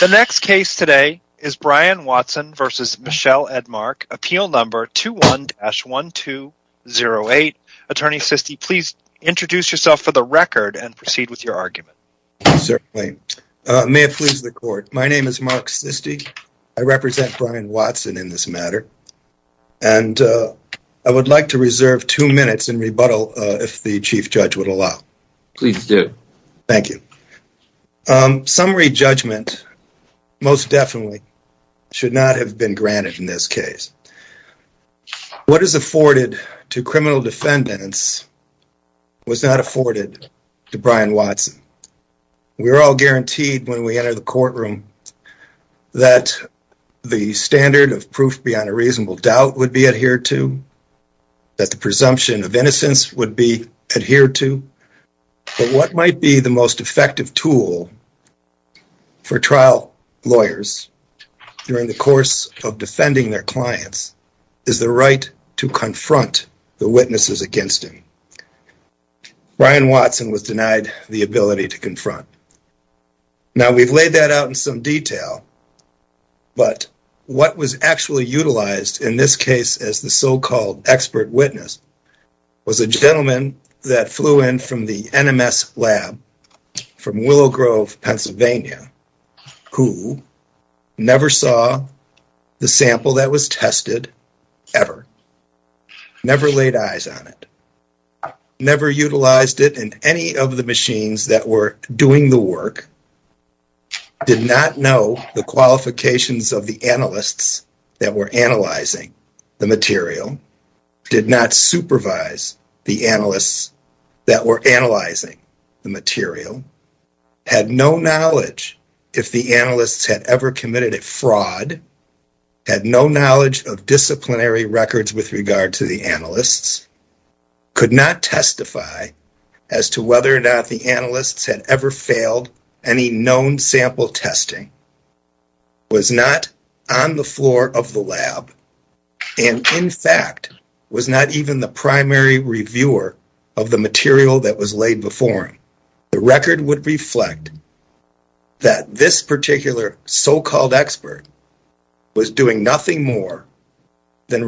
The next case today is Brian Watson v. Michelle Edmark, appeal number 21-1208. Attorney Sisti, please introduce yourself for the record and proceed with your argument. Certainly. May it please the court, my name is Mark Sisti, I represent Brian Watson in this matter, and I would like to reserve two minutes in rebuttal if the Chief Judge would allow. Please do. Thank you. Summary judgment most definitely should not have been granted in this case. What is afforded to criminal defendants was not afforded to Brian Watson. We are all guaranteed when we enter the courtroom that the standard of proof beyond a reasonable doubt would be adhered to, that the presumption of innocence would be adhered to, but what might be the most effective tool for trial lawyers during the course of defending their clients is the right to confront the witnesses against him. Brian Watson was denied the ability to confront. Now we've laid that out in some detail, but what was actually utilized in this case as the so-called expert witness was a gentleman that flew in from the NMS lab from Willow Grove, Pennsylvania, who never saw the sample that was tested ever, never laid eyes on it, never utilized it in any of the machines that were doing the work, did not know the qualifications of the analysts that were analyzing the material, did not supervise the analysts that were analyzing the material, had no knowledge if the analysts had ever committed a fraud, had no knowledge of disciplinary records with regard to the analysts, could not testify as to whether or not the analysts had ever failed any known sample testing, was not on the floor of the lab, and in fact was not even the primary reviewer of the material that was laid before him. The record would reflect that this particular so-called expert was doing nothing more than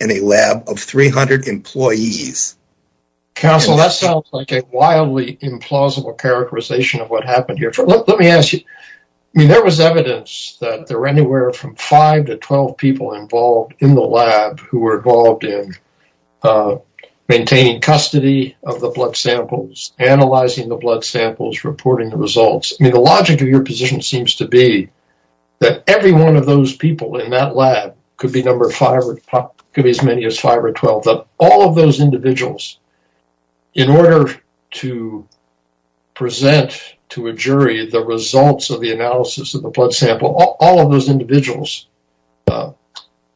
in a lab of 300 employees. Counsel, that sounds like a wildly implausible characterization of what happened here. Let me ask you, there was evidence that there were anywhere from 5 to 12 people involved in the lab who were involved in maintaining custody of the blood samples, analyzing the blood samples, reporting the results. The logic of your position seems to be that every one of those people in that lab could be as many as 5 or 12, but all of those individuals, in order to present to a jury the results of the analysis of the blood sample, all of those individuals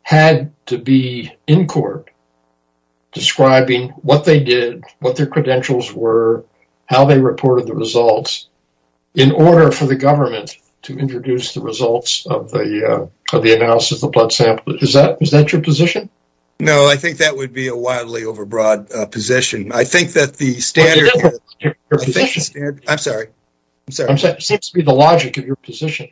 had to be in court describing what they did, what their credentials were, how they reported the results, in order for the government to introduce the results of the analysis of the blood sample. Is that your position? No, I think that would be a wildly overbroad position. I think that the standard... I'm sorry, I'm sorry. It seems to be the logic of your position.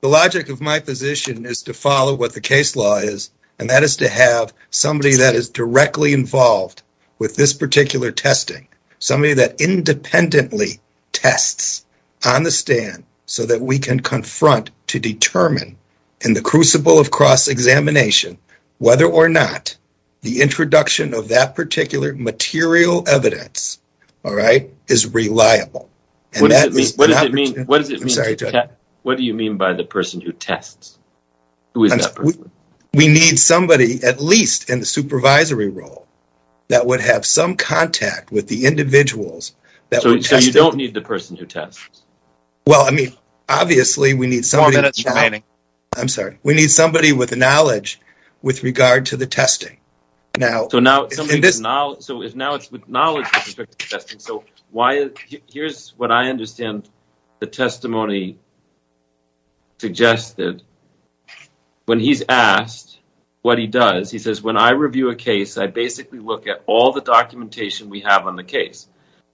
The logic of my position is to follow what the case law is, and that is to have somebody that is directly involved with this particular testing, somebody that independently tests on the stand so that we can confront to determine, in the crucible of cross-examination, whether or not the introduction of that particular material evidence is reliable. What do you mean by the person who tests? We need somebody, at least in the supervisory role, that would have some contact with the Well, I mean, obviously, we need somebody... Four minutes remaining. I'm sorry. We need somebody with knowledge with regard to the testing. So now it's with knowledge with respect to the testing. Here's what I understand the testimony suggested. When he's asked what he does, he says, when I review a case, I basically look at all the documentation we have on the case.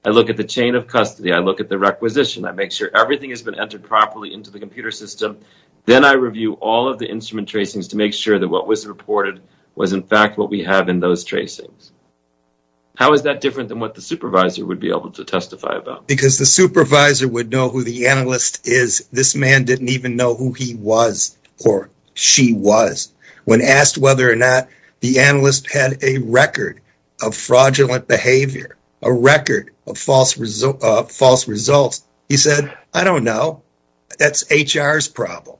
I look at the chain of custody. I look at the requisition. I make sure everything has been entered properly into the computer system. Then I review all of the instrument tracings to make sure that what was reported was, in fact, what we have in those tracings. How is that different than what the supervisor would be able to testify about? Because the supervisor would know who the analyst is. This man didn't even know who he was or she was. When asked whether or not the analyst had a record of fraudulent behavior, a record of false results, he said, I don't know. That's HR's problem.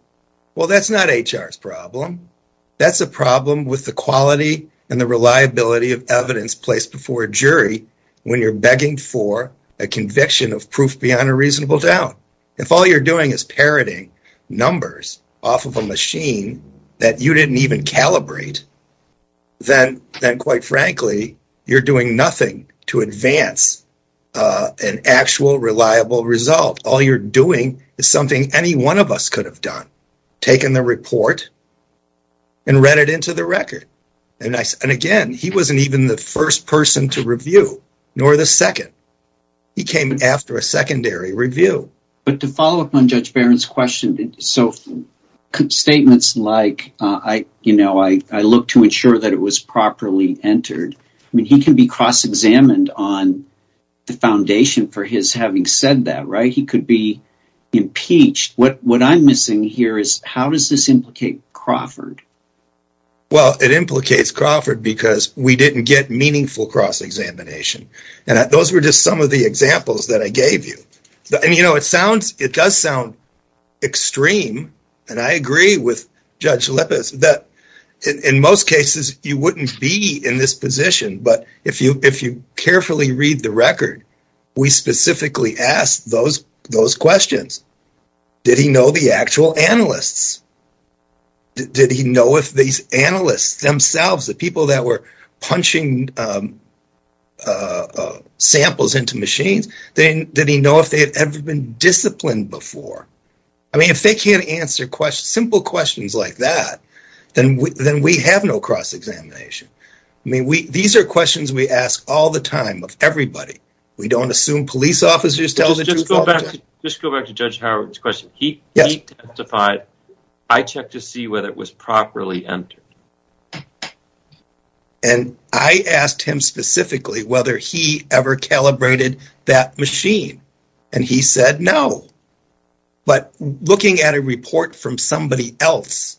Well, that's not HR's problem. That's a problem with the quality and the reliability of evidence placed before a jury when you're begging for a conviction of proof beyond a reasonable doubt. If all you're doing is parroting numbers off of a machine that you didn't even calibrate, then, quite frankly, you're doing nothing to advance an actual reliable result. All you're doing is something any one of us could have done, taken the report and read it into the record. And again, he wasn't even the first person to review, nor the second. He came after a secondary review. But to follow up on Judge Barron's question, so statements like, you know, I look to ensure that it was properly entered. I mean, he can be cross-examined on the foundation for his having said that, right? He could be impeached. What I'm missing here is how does this implicate Crawford? Well, it implicates Crawford because we didn't get meaningful cross-examination. And those were just some of the examples that I gave you. And, you know, it does sound extreme, and I agree with Judge Lippis, that in most cases, you wouldn't be in this position. But if you carefully read the record, we specifically asked those questions. Did he know the actual analysts? Did he know if these analysts themselves, the people that were punching samples into machines, did he know if they had ever been disciplined before? I mean, if they can't answer simple questions like that, then we have no cross-examination. I mean, these are questions we ask all the time of everybody. We don't assume police officers tell the truth all the time. Just go back to Judge Howard's question. He testified, I checked to see whether it was properly entered. And I asked him specifically whether he ever calibrated that machine, and he said no. But looking at a report from somebody else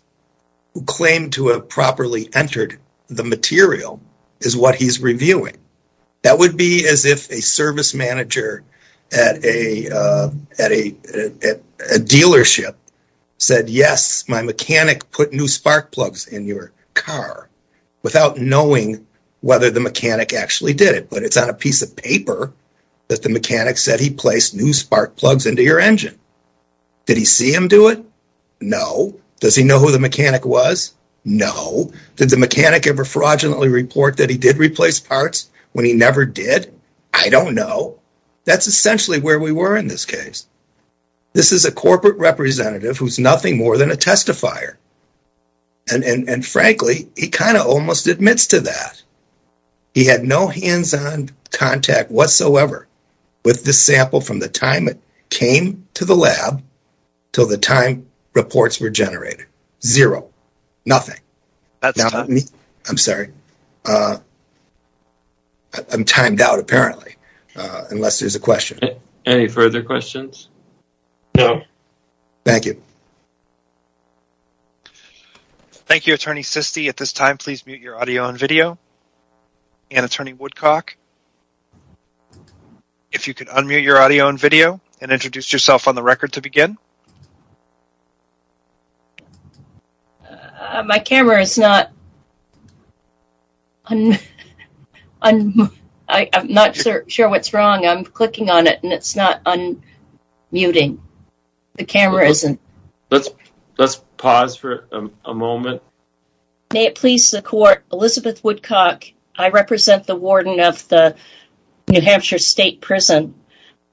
who claimed to have properly entered the material is what he's reviewing. That would be as if a service manager at a dealership said, yes, my mechanic put new spark plugs in your car. Without knowing whether the mechanic actually did it. But it's on a piece of paper that the mechanic said he placed new spark plugs into your engine. Did he see him do it? No. Does he know who the mechanic was? No. Did the mechanic ever fraudulently report that he did replace parts when he never did? I don't know. That's essentially where we were in this case. This is a corporate representative who's nothing more than a testifier. And frankly, he kind of almost admits to that. He had no hands-on contact whatsoever with the sample from the time it came to the lab till the time reports were generated. Zero. Nothing. I'm sorry. I'm timed out apparently. Unless there's a question. Any further questions? No. Thank you. Thank you, Attorney Sisti. At this time, please mute your audio and video. And Attorney Woodcock. If you could unmute your audio and video and introduce yourself on the record to begin. My camera is not. I'm not sure what's wrong. I'm clicking on it and it's not unmuting. The camera isn't. Let's pause for a moment. May it please the court. Elizabeth Woodcock. I represent the warden of the New Hampshire State Prison.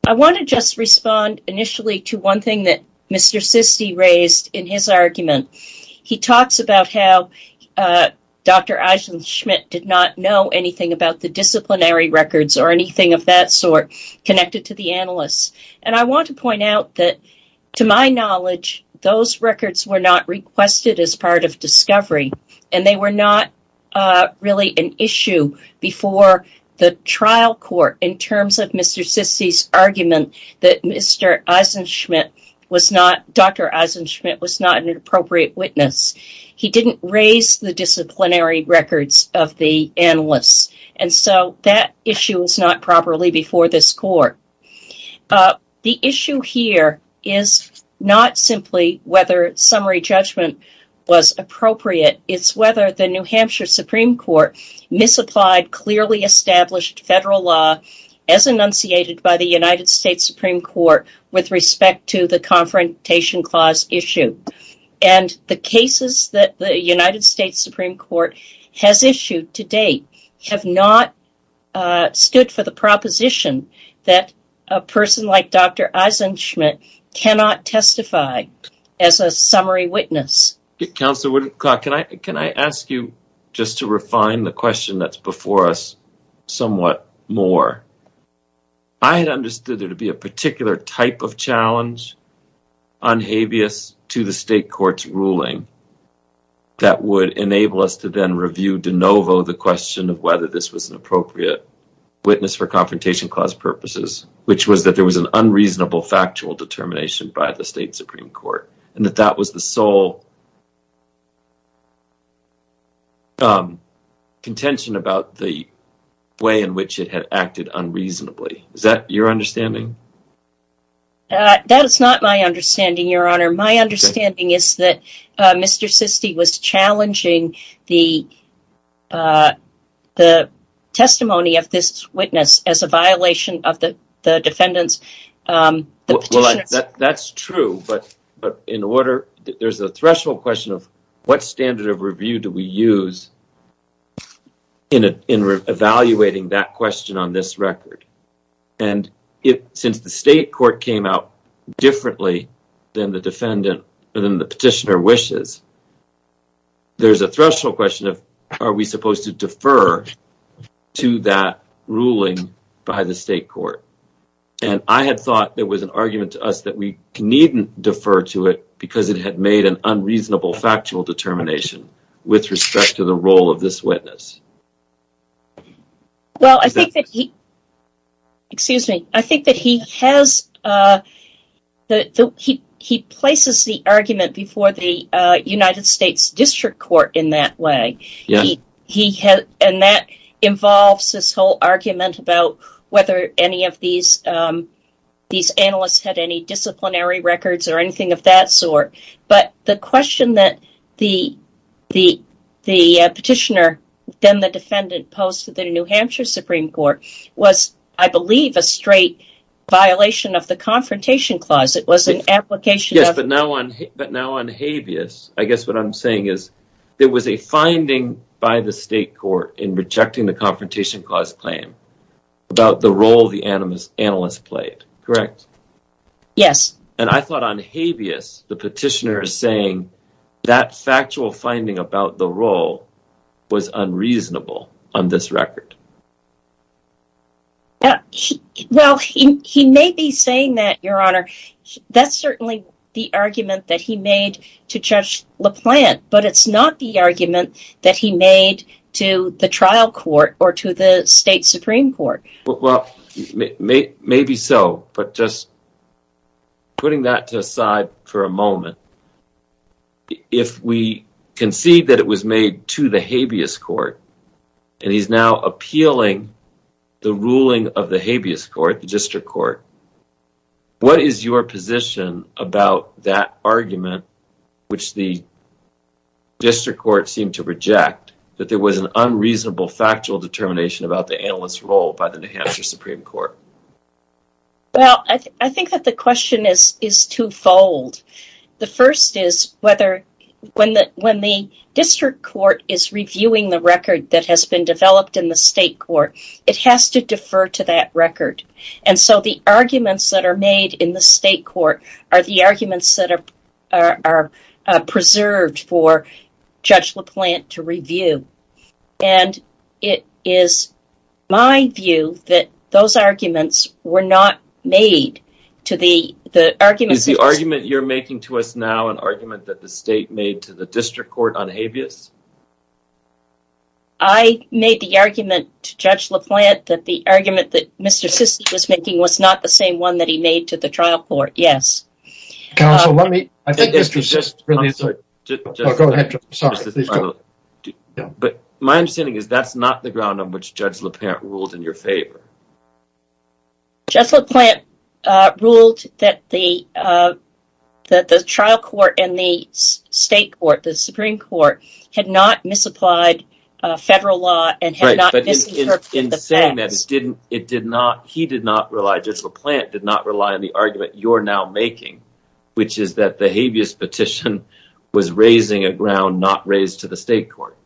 I want to just respond initially to one thing that Mr. Sisti raised in his argument. He talks about how Dr. Eisen-Schmidt did not know anything about the disciplinary records or anything of that sort connected to the analysts. And I want to point out that, to my knowledge, those records were not requested as part of discovery and they were not really an issue before the trial court in terms of Mr. Sisti's argument that Dr. Eisen-Schmidt was not an appropriate witness. He didn't raise the disciplinary records of the analysts. And so that issue was not properly before this court. The issue here is not simply whether summary judgment was appropriate, it's whether the New Hampshire Supreme Court misapplied clearly established federal law as enunciated by the United States Supreme Court with respect to the Confrontation Clause issue. And the cases that the United States Supreme Court has issued to date have not stood for the proposition that a person like Dr. Eisen-Schmidt cannot testify as a summary witness. Counselor Woodcock, can I ask you just to refine the question that's before us somewhat more? I had understood there to be a particular type of challenge on habeas to the state court's ruling that would enable us to then review de novo the question of whether this was an witness for Confrontation Clause purposes, which was that there was an unreasonable factual determination by the state Supreme Court, and that that was the sole contention about the way in which it had acted unreasonably. Is that your understanding? That is not my understanding, Your Honor. My understanding is that Mr. Sisti was challenging the testimony of this witness as a violation of the defendant's petition. That's true, but there's a threshold question of what standard of review do we use in evaluating that question on this record? And since the state court came out differently than the petitioner wishes, there's a threshold question of are we supposed to defer to that ruling by the state court? And I had thought there was an argument to us that we needn't defer to it because it had made an unreasonable factual determination with respect to the role of this witness. Well, I think that he places the argument before the United States District Court in that way, and that involves this whole argument about whether any of these analysts had any disciplinary records or anything of that sort. But the question that the petitioner, then the defendant, posed to the New Hampshire Supreme Court was, I believe, a straight violation of the Confrontation Clause. It was an application of… Yes, but now on Habeas, I guess what I'm saying is there was a finding by the state court in rejecting the Confrontation Clause claim about the role the analyst played, correct? Yes. And I thought on Habeas, the petitioner is saying that factual finding about the role was unreasonable on this record. Well, he may be saying that, Your Honor. That's certainly the argument that he made to Judge LaPlante, but it's not the argument that he made to the trial court or to the state Supreme Court. Well, maybe so, but just putting that aside for a moment, if we concede that it was made to the Habeas Court, and he's now appealing the ruling of the Habeas Court, the district court, what is your position about that argument, which the district court seemed to reject, that there was an unreasonable factual determination about the analyst's role by the New Hampshire Supreme Court? Well, I think that the question is twofold. The first is whether when the district court is reviewing the record that has been developed in the state court, it has to defer to that record. And so the arguments that are made in the state court are the arguments that are preserved for Judge LaPlante to review. And it is my view that those arguments were not made to the argument... Is the argument you're making to us now an argument that the state made to the district court on Habeas? I made the argument to Judge LaPlante that the argument that Mr. Sisti was making was not the same one that he made to the trial court, yes. Counsel, let me... Mr. Sisti, I'm sorry. But my understanding is that's not the ground on which Judge LaPlante ruled in your favor. Judge LaPlante ruled that the trial court and the state court, the Supreme Court, had not misapplied federal law and had not misinterpreted the facts. Right, but in saying that, he did not rely, Judge LaPlante did not rely on the argument you're now making, which is that the Habeas petition was raising a ground not raised to the state court.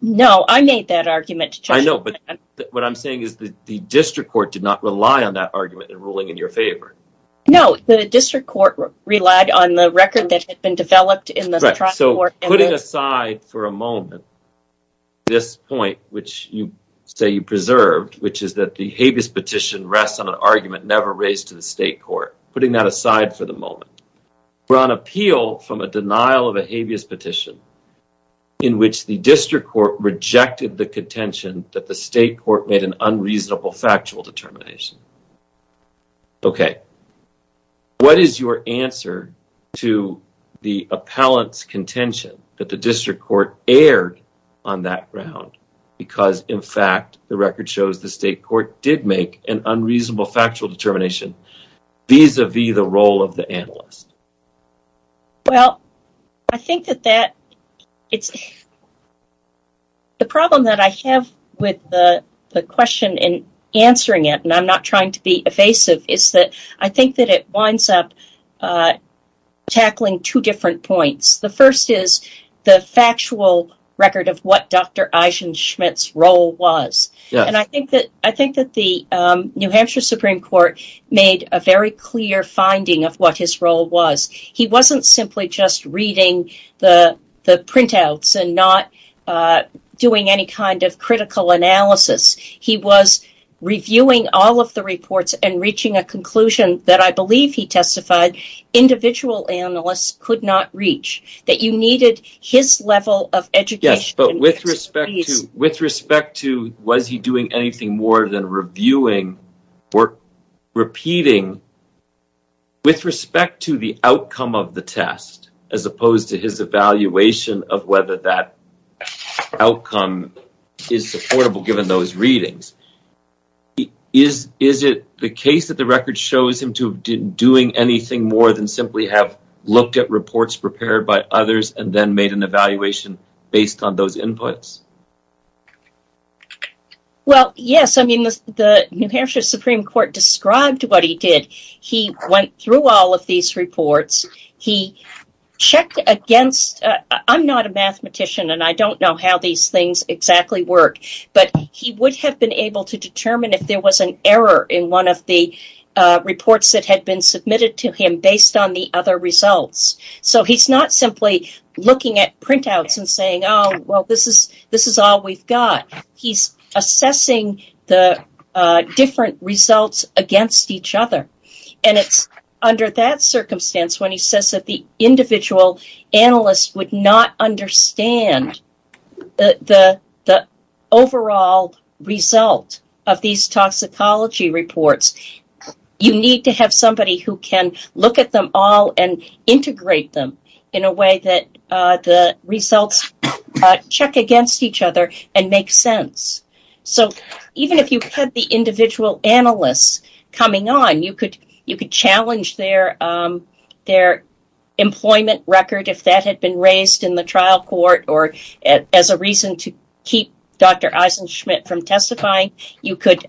No, I made that argument to Judge LaPlante. I know, but what I'm saying is that the district court did not rely on that argument in ruling in your favor. No, the district court relied on the record that had been developed in the trial court. Right, so put it aside for a moment. This point, which you say you preserved, which is that the Habeas petition rests on an argument never raised to the state court. Putting that aside for the moment, we're on appeal from a denial of a Habeas petition in which the district court rejected the contention that the state court made an unreasonable factual determination. Okay, what is your answer to the appellant's contention that the district court erred on that ground because, in fact, the record shows the state court did make an unreasonable factual determination vis-a-vis the role of the analyst? Well, I think that the problem that I have with the question in answering it, and I'm not trying to be evasive, is that I think that it winds up tackling two different points. The first is the factual record of what Dr. Eisen-Schmidt's role was, and I think that the New Hampshire Supreme Court made a very clear finding of what his role was. He wasn't simply just reading the printouts and not doing any kind of critical analysis. He was reviewing all of the reports and reaching a conclusion that I believe he testified individual analysts could not reach, that you needed his level of education. But with respect to was he doing anything more than reviewing or repeating, with respect to the outcome of the test, as opposed to his evaluation of whether that outcome is supportable given those readings, is it the case that the record shows him to have been doing anything more than simply have looked at reports prepared by others and then made an evaluation based on those inputs? Well, yes. I mean, the New Hampshire Supreme Court described what he did. He went through all of these reports. I'm not a mathematician, and I don't know how these things exactly work, but he would have been able to determine if there was an error in one of the reports that had been submitted to him based on the other results. So he's not simply looking at printouts and saying, oh, well, this is all we've got. He's assessing the different results against each other, and it's under that circumstance when he says that the individual analysts would not understand the overall result of these toxicology reports. You need to have somebody who can look at them all and integrate them in a way that the results check against each other and make sense. So even if you had the individual analysts coming on, you could challenge their employment record if that had been raised in the trial court or as a reason to keep Dr. Eisen-Schmidt from testifying. You could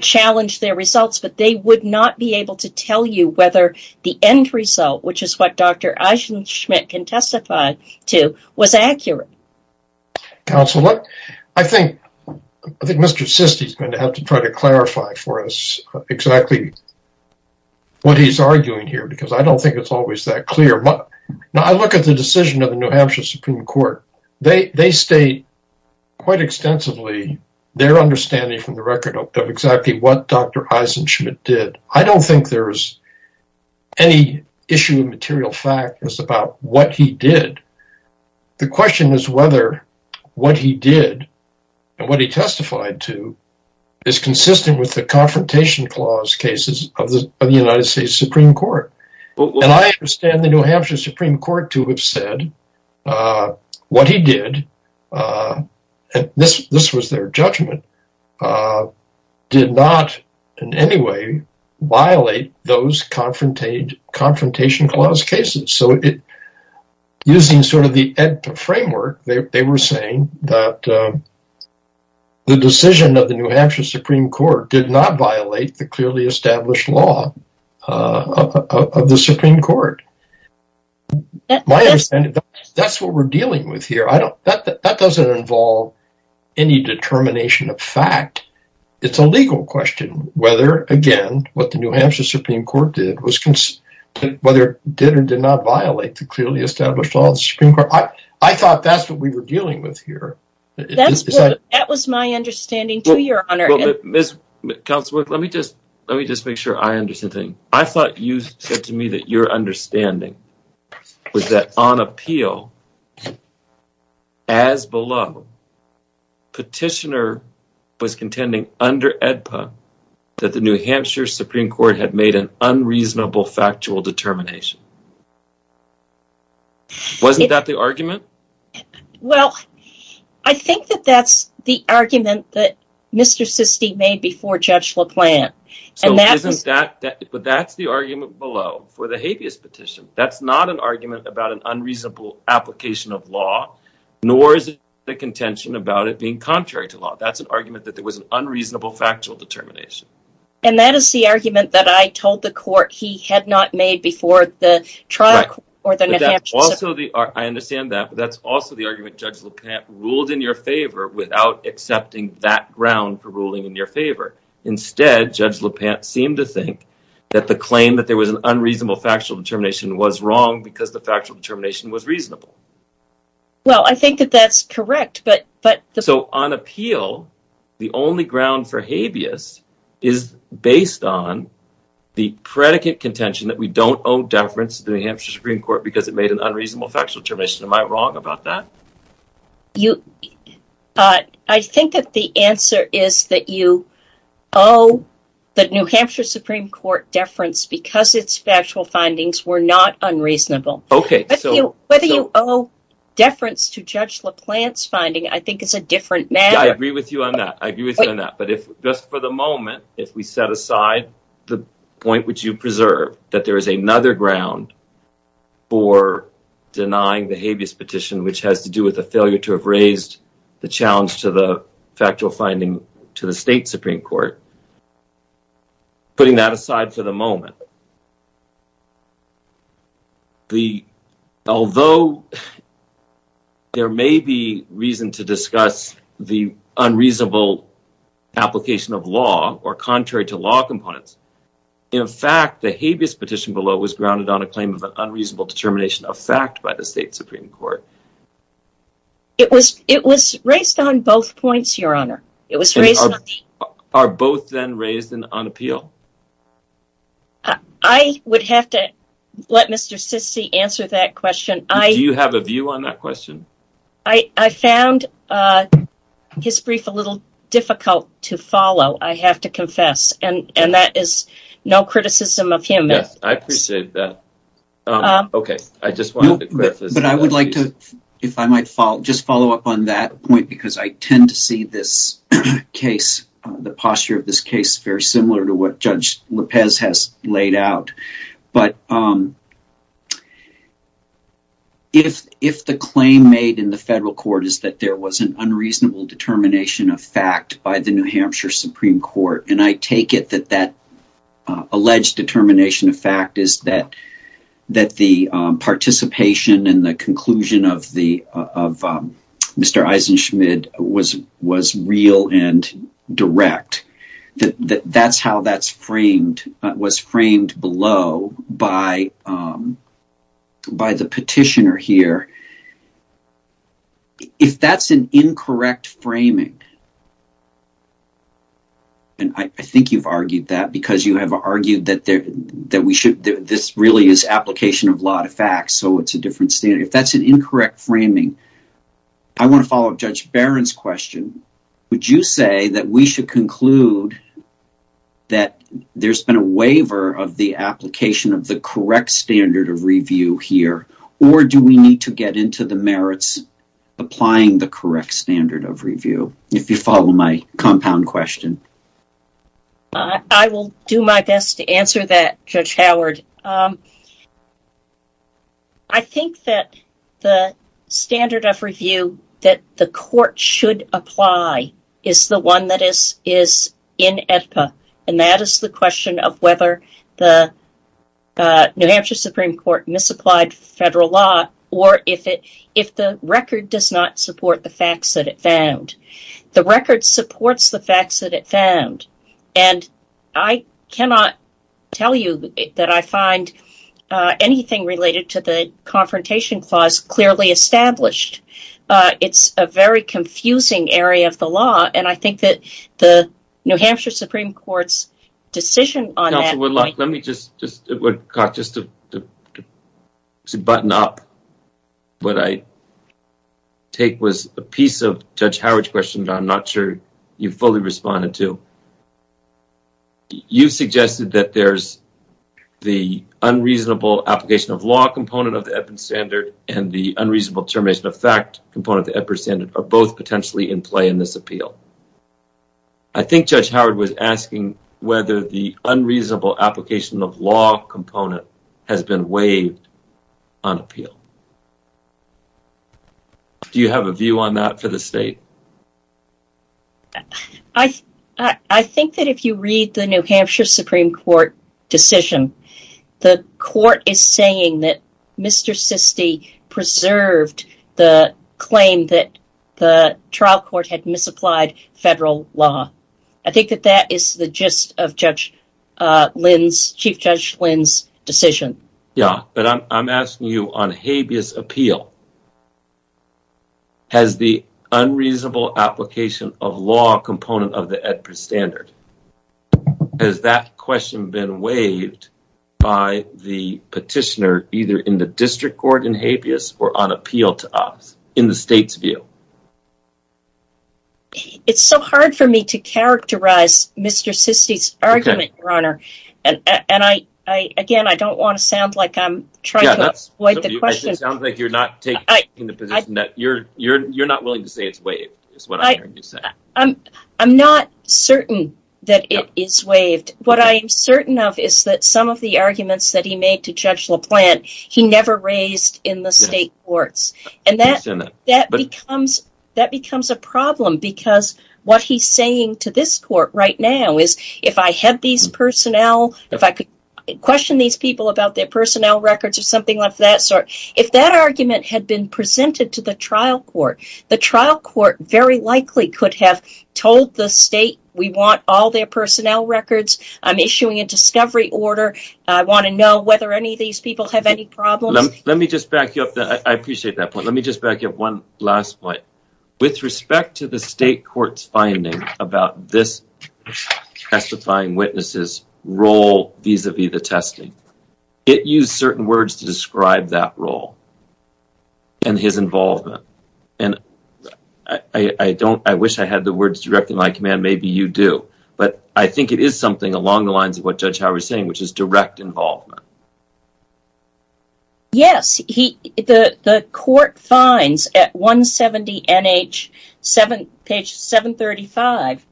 challenge their results, but they would not be able to tell you whether the end result, which is what Dr. Eisen-Schmidt can testify to, was accurate. Counsel, I think Mr. Sisti is going to have to try to clarify for us exactly what he's arguing here, because I don't think it's always that clear. Now, I look at the decision of the New Hampshire Supreme Court. They state quite extensively their understanding from the record of exactly what Dr. Eisen-Schmidt did. I don't think there's any issue of material fact about what he did. The question is whether what he did and what he testified to is consistent with the confrontation clause cases of the United States Supreme Court. I understand the New Hampshire Supreme Court to have said what he did, and this was their judgment, did not in any way violate those confrontation clause cases. Using sort of the framework, they were saying that the decision of the New Hampshire Supreme Court did not violate the clearly established law of the Supreme Court. My understanding, that's what we're dealing with here. That doesn't involve any determination of fact. It's a legal question whether, again, what the New Hampshire Supreme Court did was consistent, whether it did or did not violate the clearly established law of the Supreme Court. I thought that's what we were dealing with here. That was my understanding, too, Your Honor. Ms. Councilwoman, let me just make sure I understand. I thought you said to me that your understanding was that on appeal, as below, petitioner was contending under AEDPA that the New Hampshire Supreme Court had made an unreasonable factual Wasn't that the argument? Well, I think that that's the argument that Mr. Sistey made before Judge LaPlante. But that's the argument below for the habeas petition. That's not an argument about an unreasonable application of law, nor is it the contention about it being contrary to law. That's an argument that there was an unreasonable factual determination. And that is the argument that I told the court he had not made before the trial court. Also, I understand that. But that's also the argument Judge LaPlante ruled in your favor without accepting that ground for ruling in your favor. Instead, Judge LaPlante seemed to think that the claim that there was an unreasonable factual determination was wrong because the factual determination was reasonable. Well, I think that that's correct. So on appeal, the only ground for habeas is based on the predicate contention that we an unreasonable factual determination. Am I wrong about that? I think that the answer is that you owe the New Hampshire Supreme Court deference because its factual findings were not unreasonable. Whether you owe deference to Judge LaPlante's finding, I think, is a different matter. I agree with you on that. I agree with you on that. But just for the moment, if we set aside the point which you preserve, that there is another ground for denying the habeas petition, which has to do with a failure to have raised the challenge to the factual finding to the state Supreme Court, putting that aside for the moment, although there may be reason to discuss the unreasonable application of law or contrary to law components, in fact, the habeas petition below was grounded on a claim of an unreasonable determination of fact by the state Supreme Court. It was raised on both points, Your Honor. Are both then raised on appeal? I would have to let Mr. Sissy answer that question. Do you have a view on that question? I found his brief a little difficult to follow, I have to confess. And that is no criticism of him. Yes, I appreciate that. Okay, I just wanted to clarify. But I would like to, if I might, just follow up on that point, because I tend to see this case, the posture of this case, very similar to what Judge LaPez has laid out. But if the claim made in the federal court is that there was an unreasonable determination of New Hampshire Supreme Court, and I take it that that alleged determination of fact is that the participation and the conclusion of Mr. Eisenschmid was real and direct, that's how that was framed below by the petitioner here. But if that's an incorrect framing, and I think you've argued that because you have argued that this really is application of law to fact, so it's a different standard. If that's an incorrect framing, I want to follow up Judge Barron's question. Would you say that we should conclude that there's been a waiver of the application of correct standard of review here, or do we need to get into the merits applying the correct standard of review, if you follow my compound question? I will do my best to answer that, Judge Howard. I think that the standard of review that the court should apply is the one that is in AEDPA, and that is the question of whether the New Hampshire Supreme Court misapplied federal law, or if the record does not support the facts that it found. The record supports the facts that it found, and I cannot tell you that I find anything related to the confrontation clause clearly established. It's a very confusing area of the law, and I think the New Hampshire Supreme Court's decision on that point… Counselor Woodlock, let me just… It would cost us to button up. What I take was a piece of Judge Howard's question that I'm not sure you fully responded to. You suggested that there's the unreasonable application of law component of the EPIR standard, and the unreasonable termination of fact component of the EPIR standard are both in play in this appeal. I think Judge Howard was asking whether the unreasonable application of law component has been waived on appeal. Do you have a view on that for the state? I think that if you read the New Hampshire Supreme Court decision, the court is saying that trial court had misapplied federal law. I think that that is the gist of Chief Judge Lynn's decision. Yeah, but I'm asking you on habeas appeal, has the unreasonable application of law component of the EPIR standard, has that question been waived by the petitioner either in the district court in habeas or on the state's view? It's so hard for me to characterize Mr. Sisti's argument, Your Honor. Again, I don't want to sound like I'm trying to avoid the question. It sounds like you're not taking the position that you're not willing to say it's waived. I'm not certain that it is waived. What I am certain of is that some of the arguments that state courts have, and that becomes a problem because what he's saying to this court right now is if I had these personnel, if I could question these people about their personnel records or something of that sort, if that argument had been presented to the trial court, the trial court very likely could have told the state we want all their personnel records, I'm issuing a discovery order, I want to know whether any of these people have any problems. Let me just back you up. I appreciate that point. Let me just back up one last point. With respect to the state court's finding about this testifying witness's role vis-a-vis the testing, it used certain words to describe that role and his involvement. I wish I had the words directly in my command, maybe you do, but I think it is something along the lines of what Judge Howard is saying, which is direct involvement. Yes, the court finds at 170 NH page 735,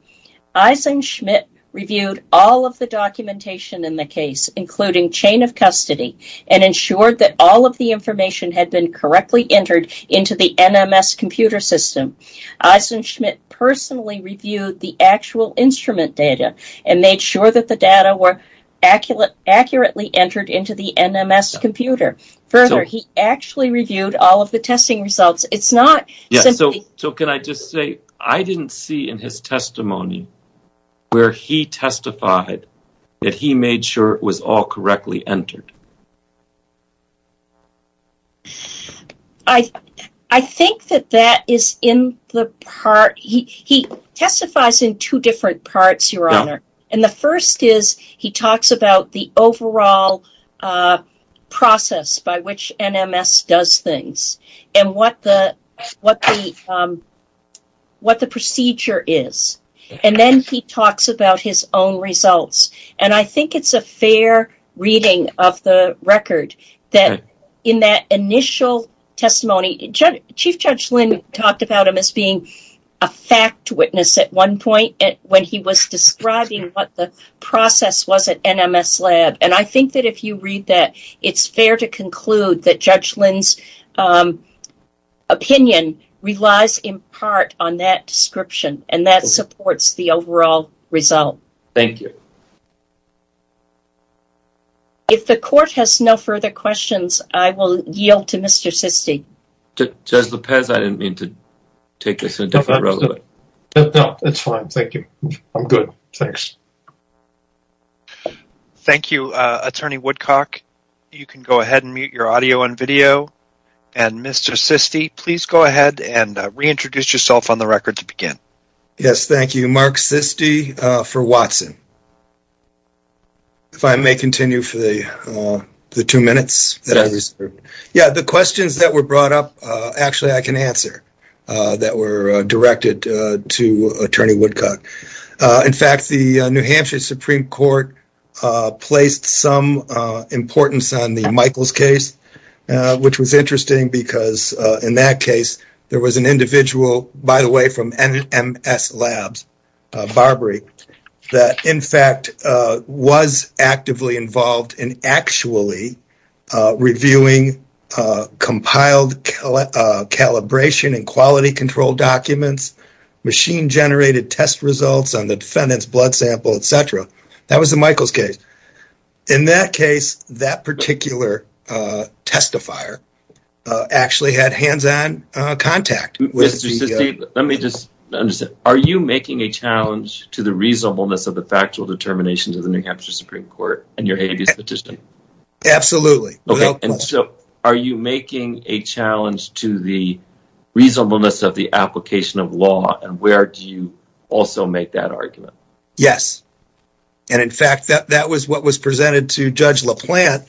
Eisen Schmidt reviewed all of the documentation in the case, including chain of custody, and ensured that all of the information had been correctly entered into the NMS computer system. Eisen Schmidt personally reviewed the actual instrument data and made sure that the data were accurately entered into the NMS computer. Further, he actually reviewed all of the testing results. It's not simply... So can I just say, I didn't see in his testimony where he testified that he made sure it was all correctly entered? I think that that is in the part... He testifies in two different parts, Your Honor, and the first is he talks about the overall process by which NMS does things, and what the procedure is, and then he talks about his own results, and I think it's a fair reading of the record that in that initial testimony, Chief Judge Lynn talked about him as being a fact witness at one point when he was describing what the process was at NMS lab, and I think that if you read that, it's fair to conclude that Judge Lynn's opinion relies in part on that description, and that supports the overall result. Thank you. If the court has no further questions, I will yield to Mr. Sisti. Judge Lopez, I didn't mean to take this in a different role. No, that's fine. Thank you. I'm good. Thanks. Thank you, Attorney Woodcock. You can go ahead and mute your audio and video, and Mr. Sisti, please go ahead and reintroduce yourself on the record to begin. Yes, thank you. Mark Sisti for Watson. If I may continue for the two minutes that I reserved. Yeah, the questions that were brought up actually I can answer that were directed to Attorney Woodcock. In fact, the New Hampshire Supreme Court placed some importance on the Michaels case, which was interesting because in that case, there was an individual, by the way, from NMS labs, Barbary, that in fact was actively involved in actually reviewing compiled calibration and quality control documents, machine generated test results on the defendant's blood sample, etc. That was the Michaels case. In that case, that particular testifier actually had hands-on contact. Mr. Sisti, let me just understand. Are you making a challenge to the reasonableness of the factual determinations of the New Hampshire Supreme Court in your habeas petition? Absolutely. And so are you making a challenge to the reasonableness of the application of law, and where do you also make that argument? Yes. And in fact, that was what was presented to Judge LaPlante.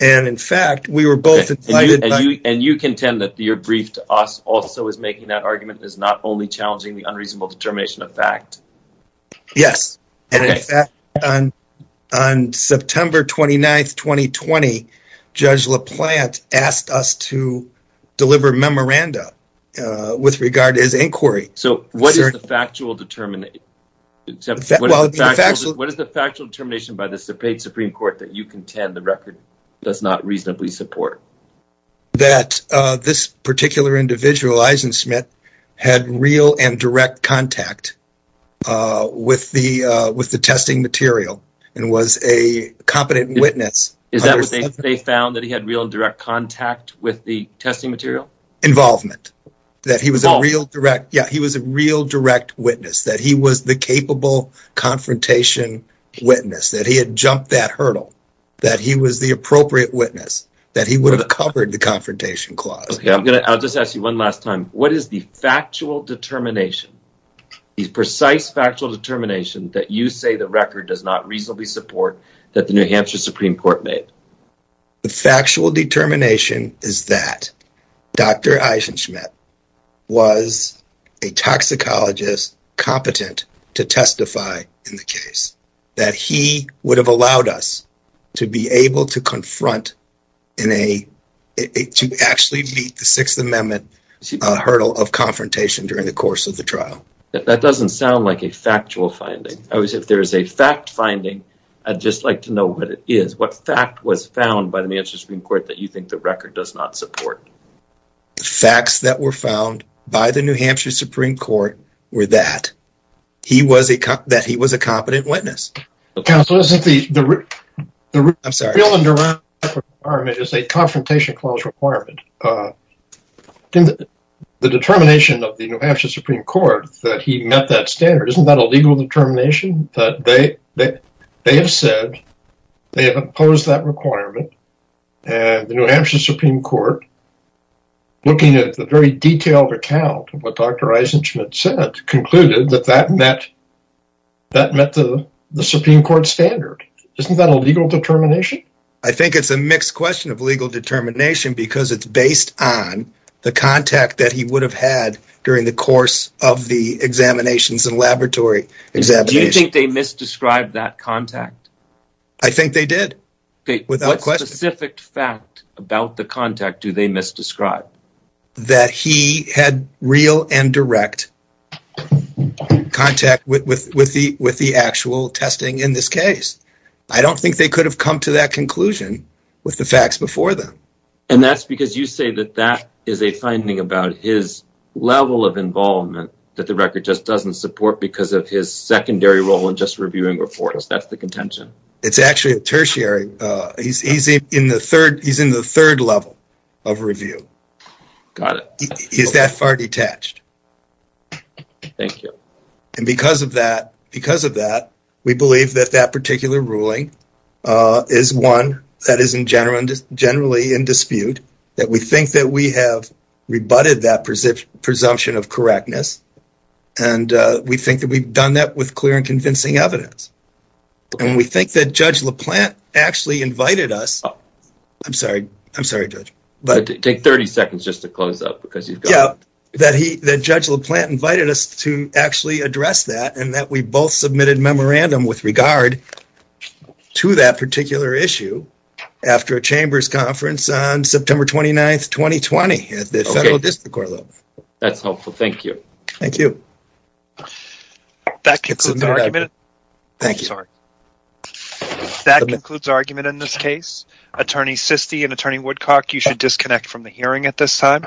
And in fact, we were both invited. And you contend that your brief to us also is making that argument is not only challenging the unreasonable determination of fact? Yes. And in fact, on September 29, 2020, Judge LaPlante asked us to deliver memoranda with regard to his inquiry. So what is the factual determination by the Supreme Court that you contend the record does not reasonably support? That this particular individual, Eisen Smith, had real and direct contact with the testing material and was a competent witness. Is that what they found, that he had real and direct contact with the testing material? Involvement. That he was a real direct, yeah, he was a real direct witness, that he was the capable confrontation witness, that he had jumped that hurdle, that he was the appropriate witness, that he would have covered the confrontation clause. Okay, I'll just ask you one last time. What is the factual determination, the precise factual determination that you say the record does not reasonably support that the New Hampshire Supreme Court made? The factual determination is that Dr. Eisen Smith was a toxicologist competent to testify in the case, that he would have allowed us to be able to confront in a, to actually meet the Sixth Amendment hurdle of confrontation during the course of the trial. That doesn't sound like a factual finding. If there is a fact finding, I'd just like to know what it is, what fact was found by the New Hampshire Supreme Court that you support? The facts that were found by the New Hampshire Supreme Court were that he was a, that he was a competent witness. Counsel, isn't the real and direct requirement is a confrontation clause requirement. In the determination of the New Hampshire Supreme Court, that he met that standard, isn't that a legal determination? That they, they have said, they have opposed that court, looking at the very detailed account of what Dr. Eisen Smith said, concluded that that met, that met the Supreme Court standard. Isn't that a legal determination? I think it's a mixed question of legal determination because it's based on the contact that he would have had during the course of the examinations and laboratory examination. Do you think they do they misdescribe? That he had real and direct contact with the actual testing in this case. I don't think they could have come to that conclusion with the facts before them. And that's because you say that that is a finding about his level of involvement that the record just doesn't support because of his secondary role in just reviewing reports. That's the contention. It's actually a tertiary. He's easy in the third, he's in the third level of review. Got it. He's that far detached. Thank you. And because of that, because of that, we believe that that particular ruling is one that is in general, generally in dispute. That we think that we have rebutted that presumption of correctness. And we think that we've done that with clear and judge LaPlante actually invited us. I'm sorry, I'm sorry, judge, but take 30 seconds just to close up because you've got that he, that judge LaPlante invited us to actually address that and that we both submitted memorandum with regard to that particular issue after a chamber's conference on September 29th, 2020 at the federal district court level. That's helpful. Thank you. Thank you. That concludes the argument. Thank you. Sorry. That concludes argument in this case. Attorney Sisti and attorney Woodcock, you should disconnect from the hearing at this time.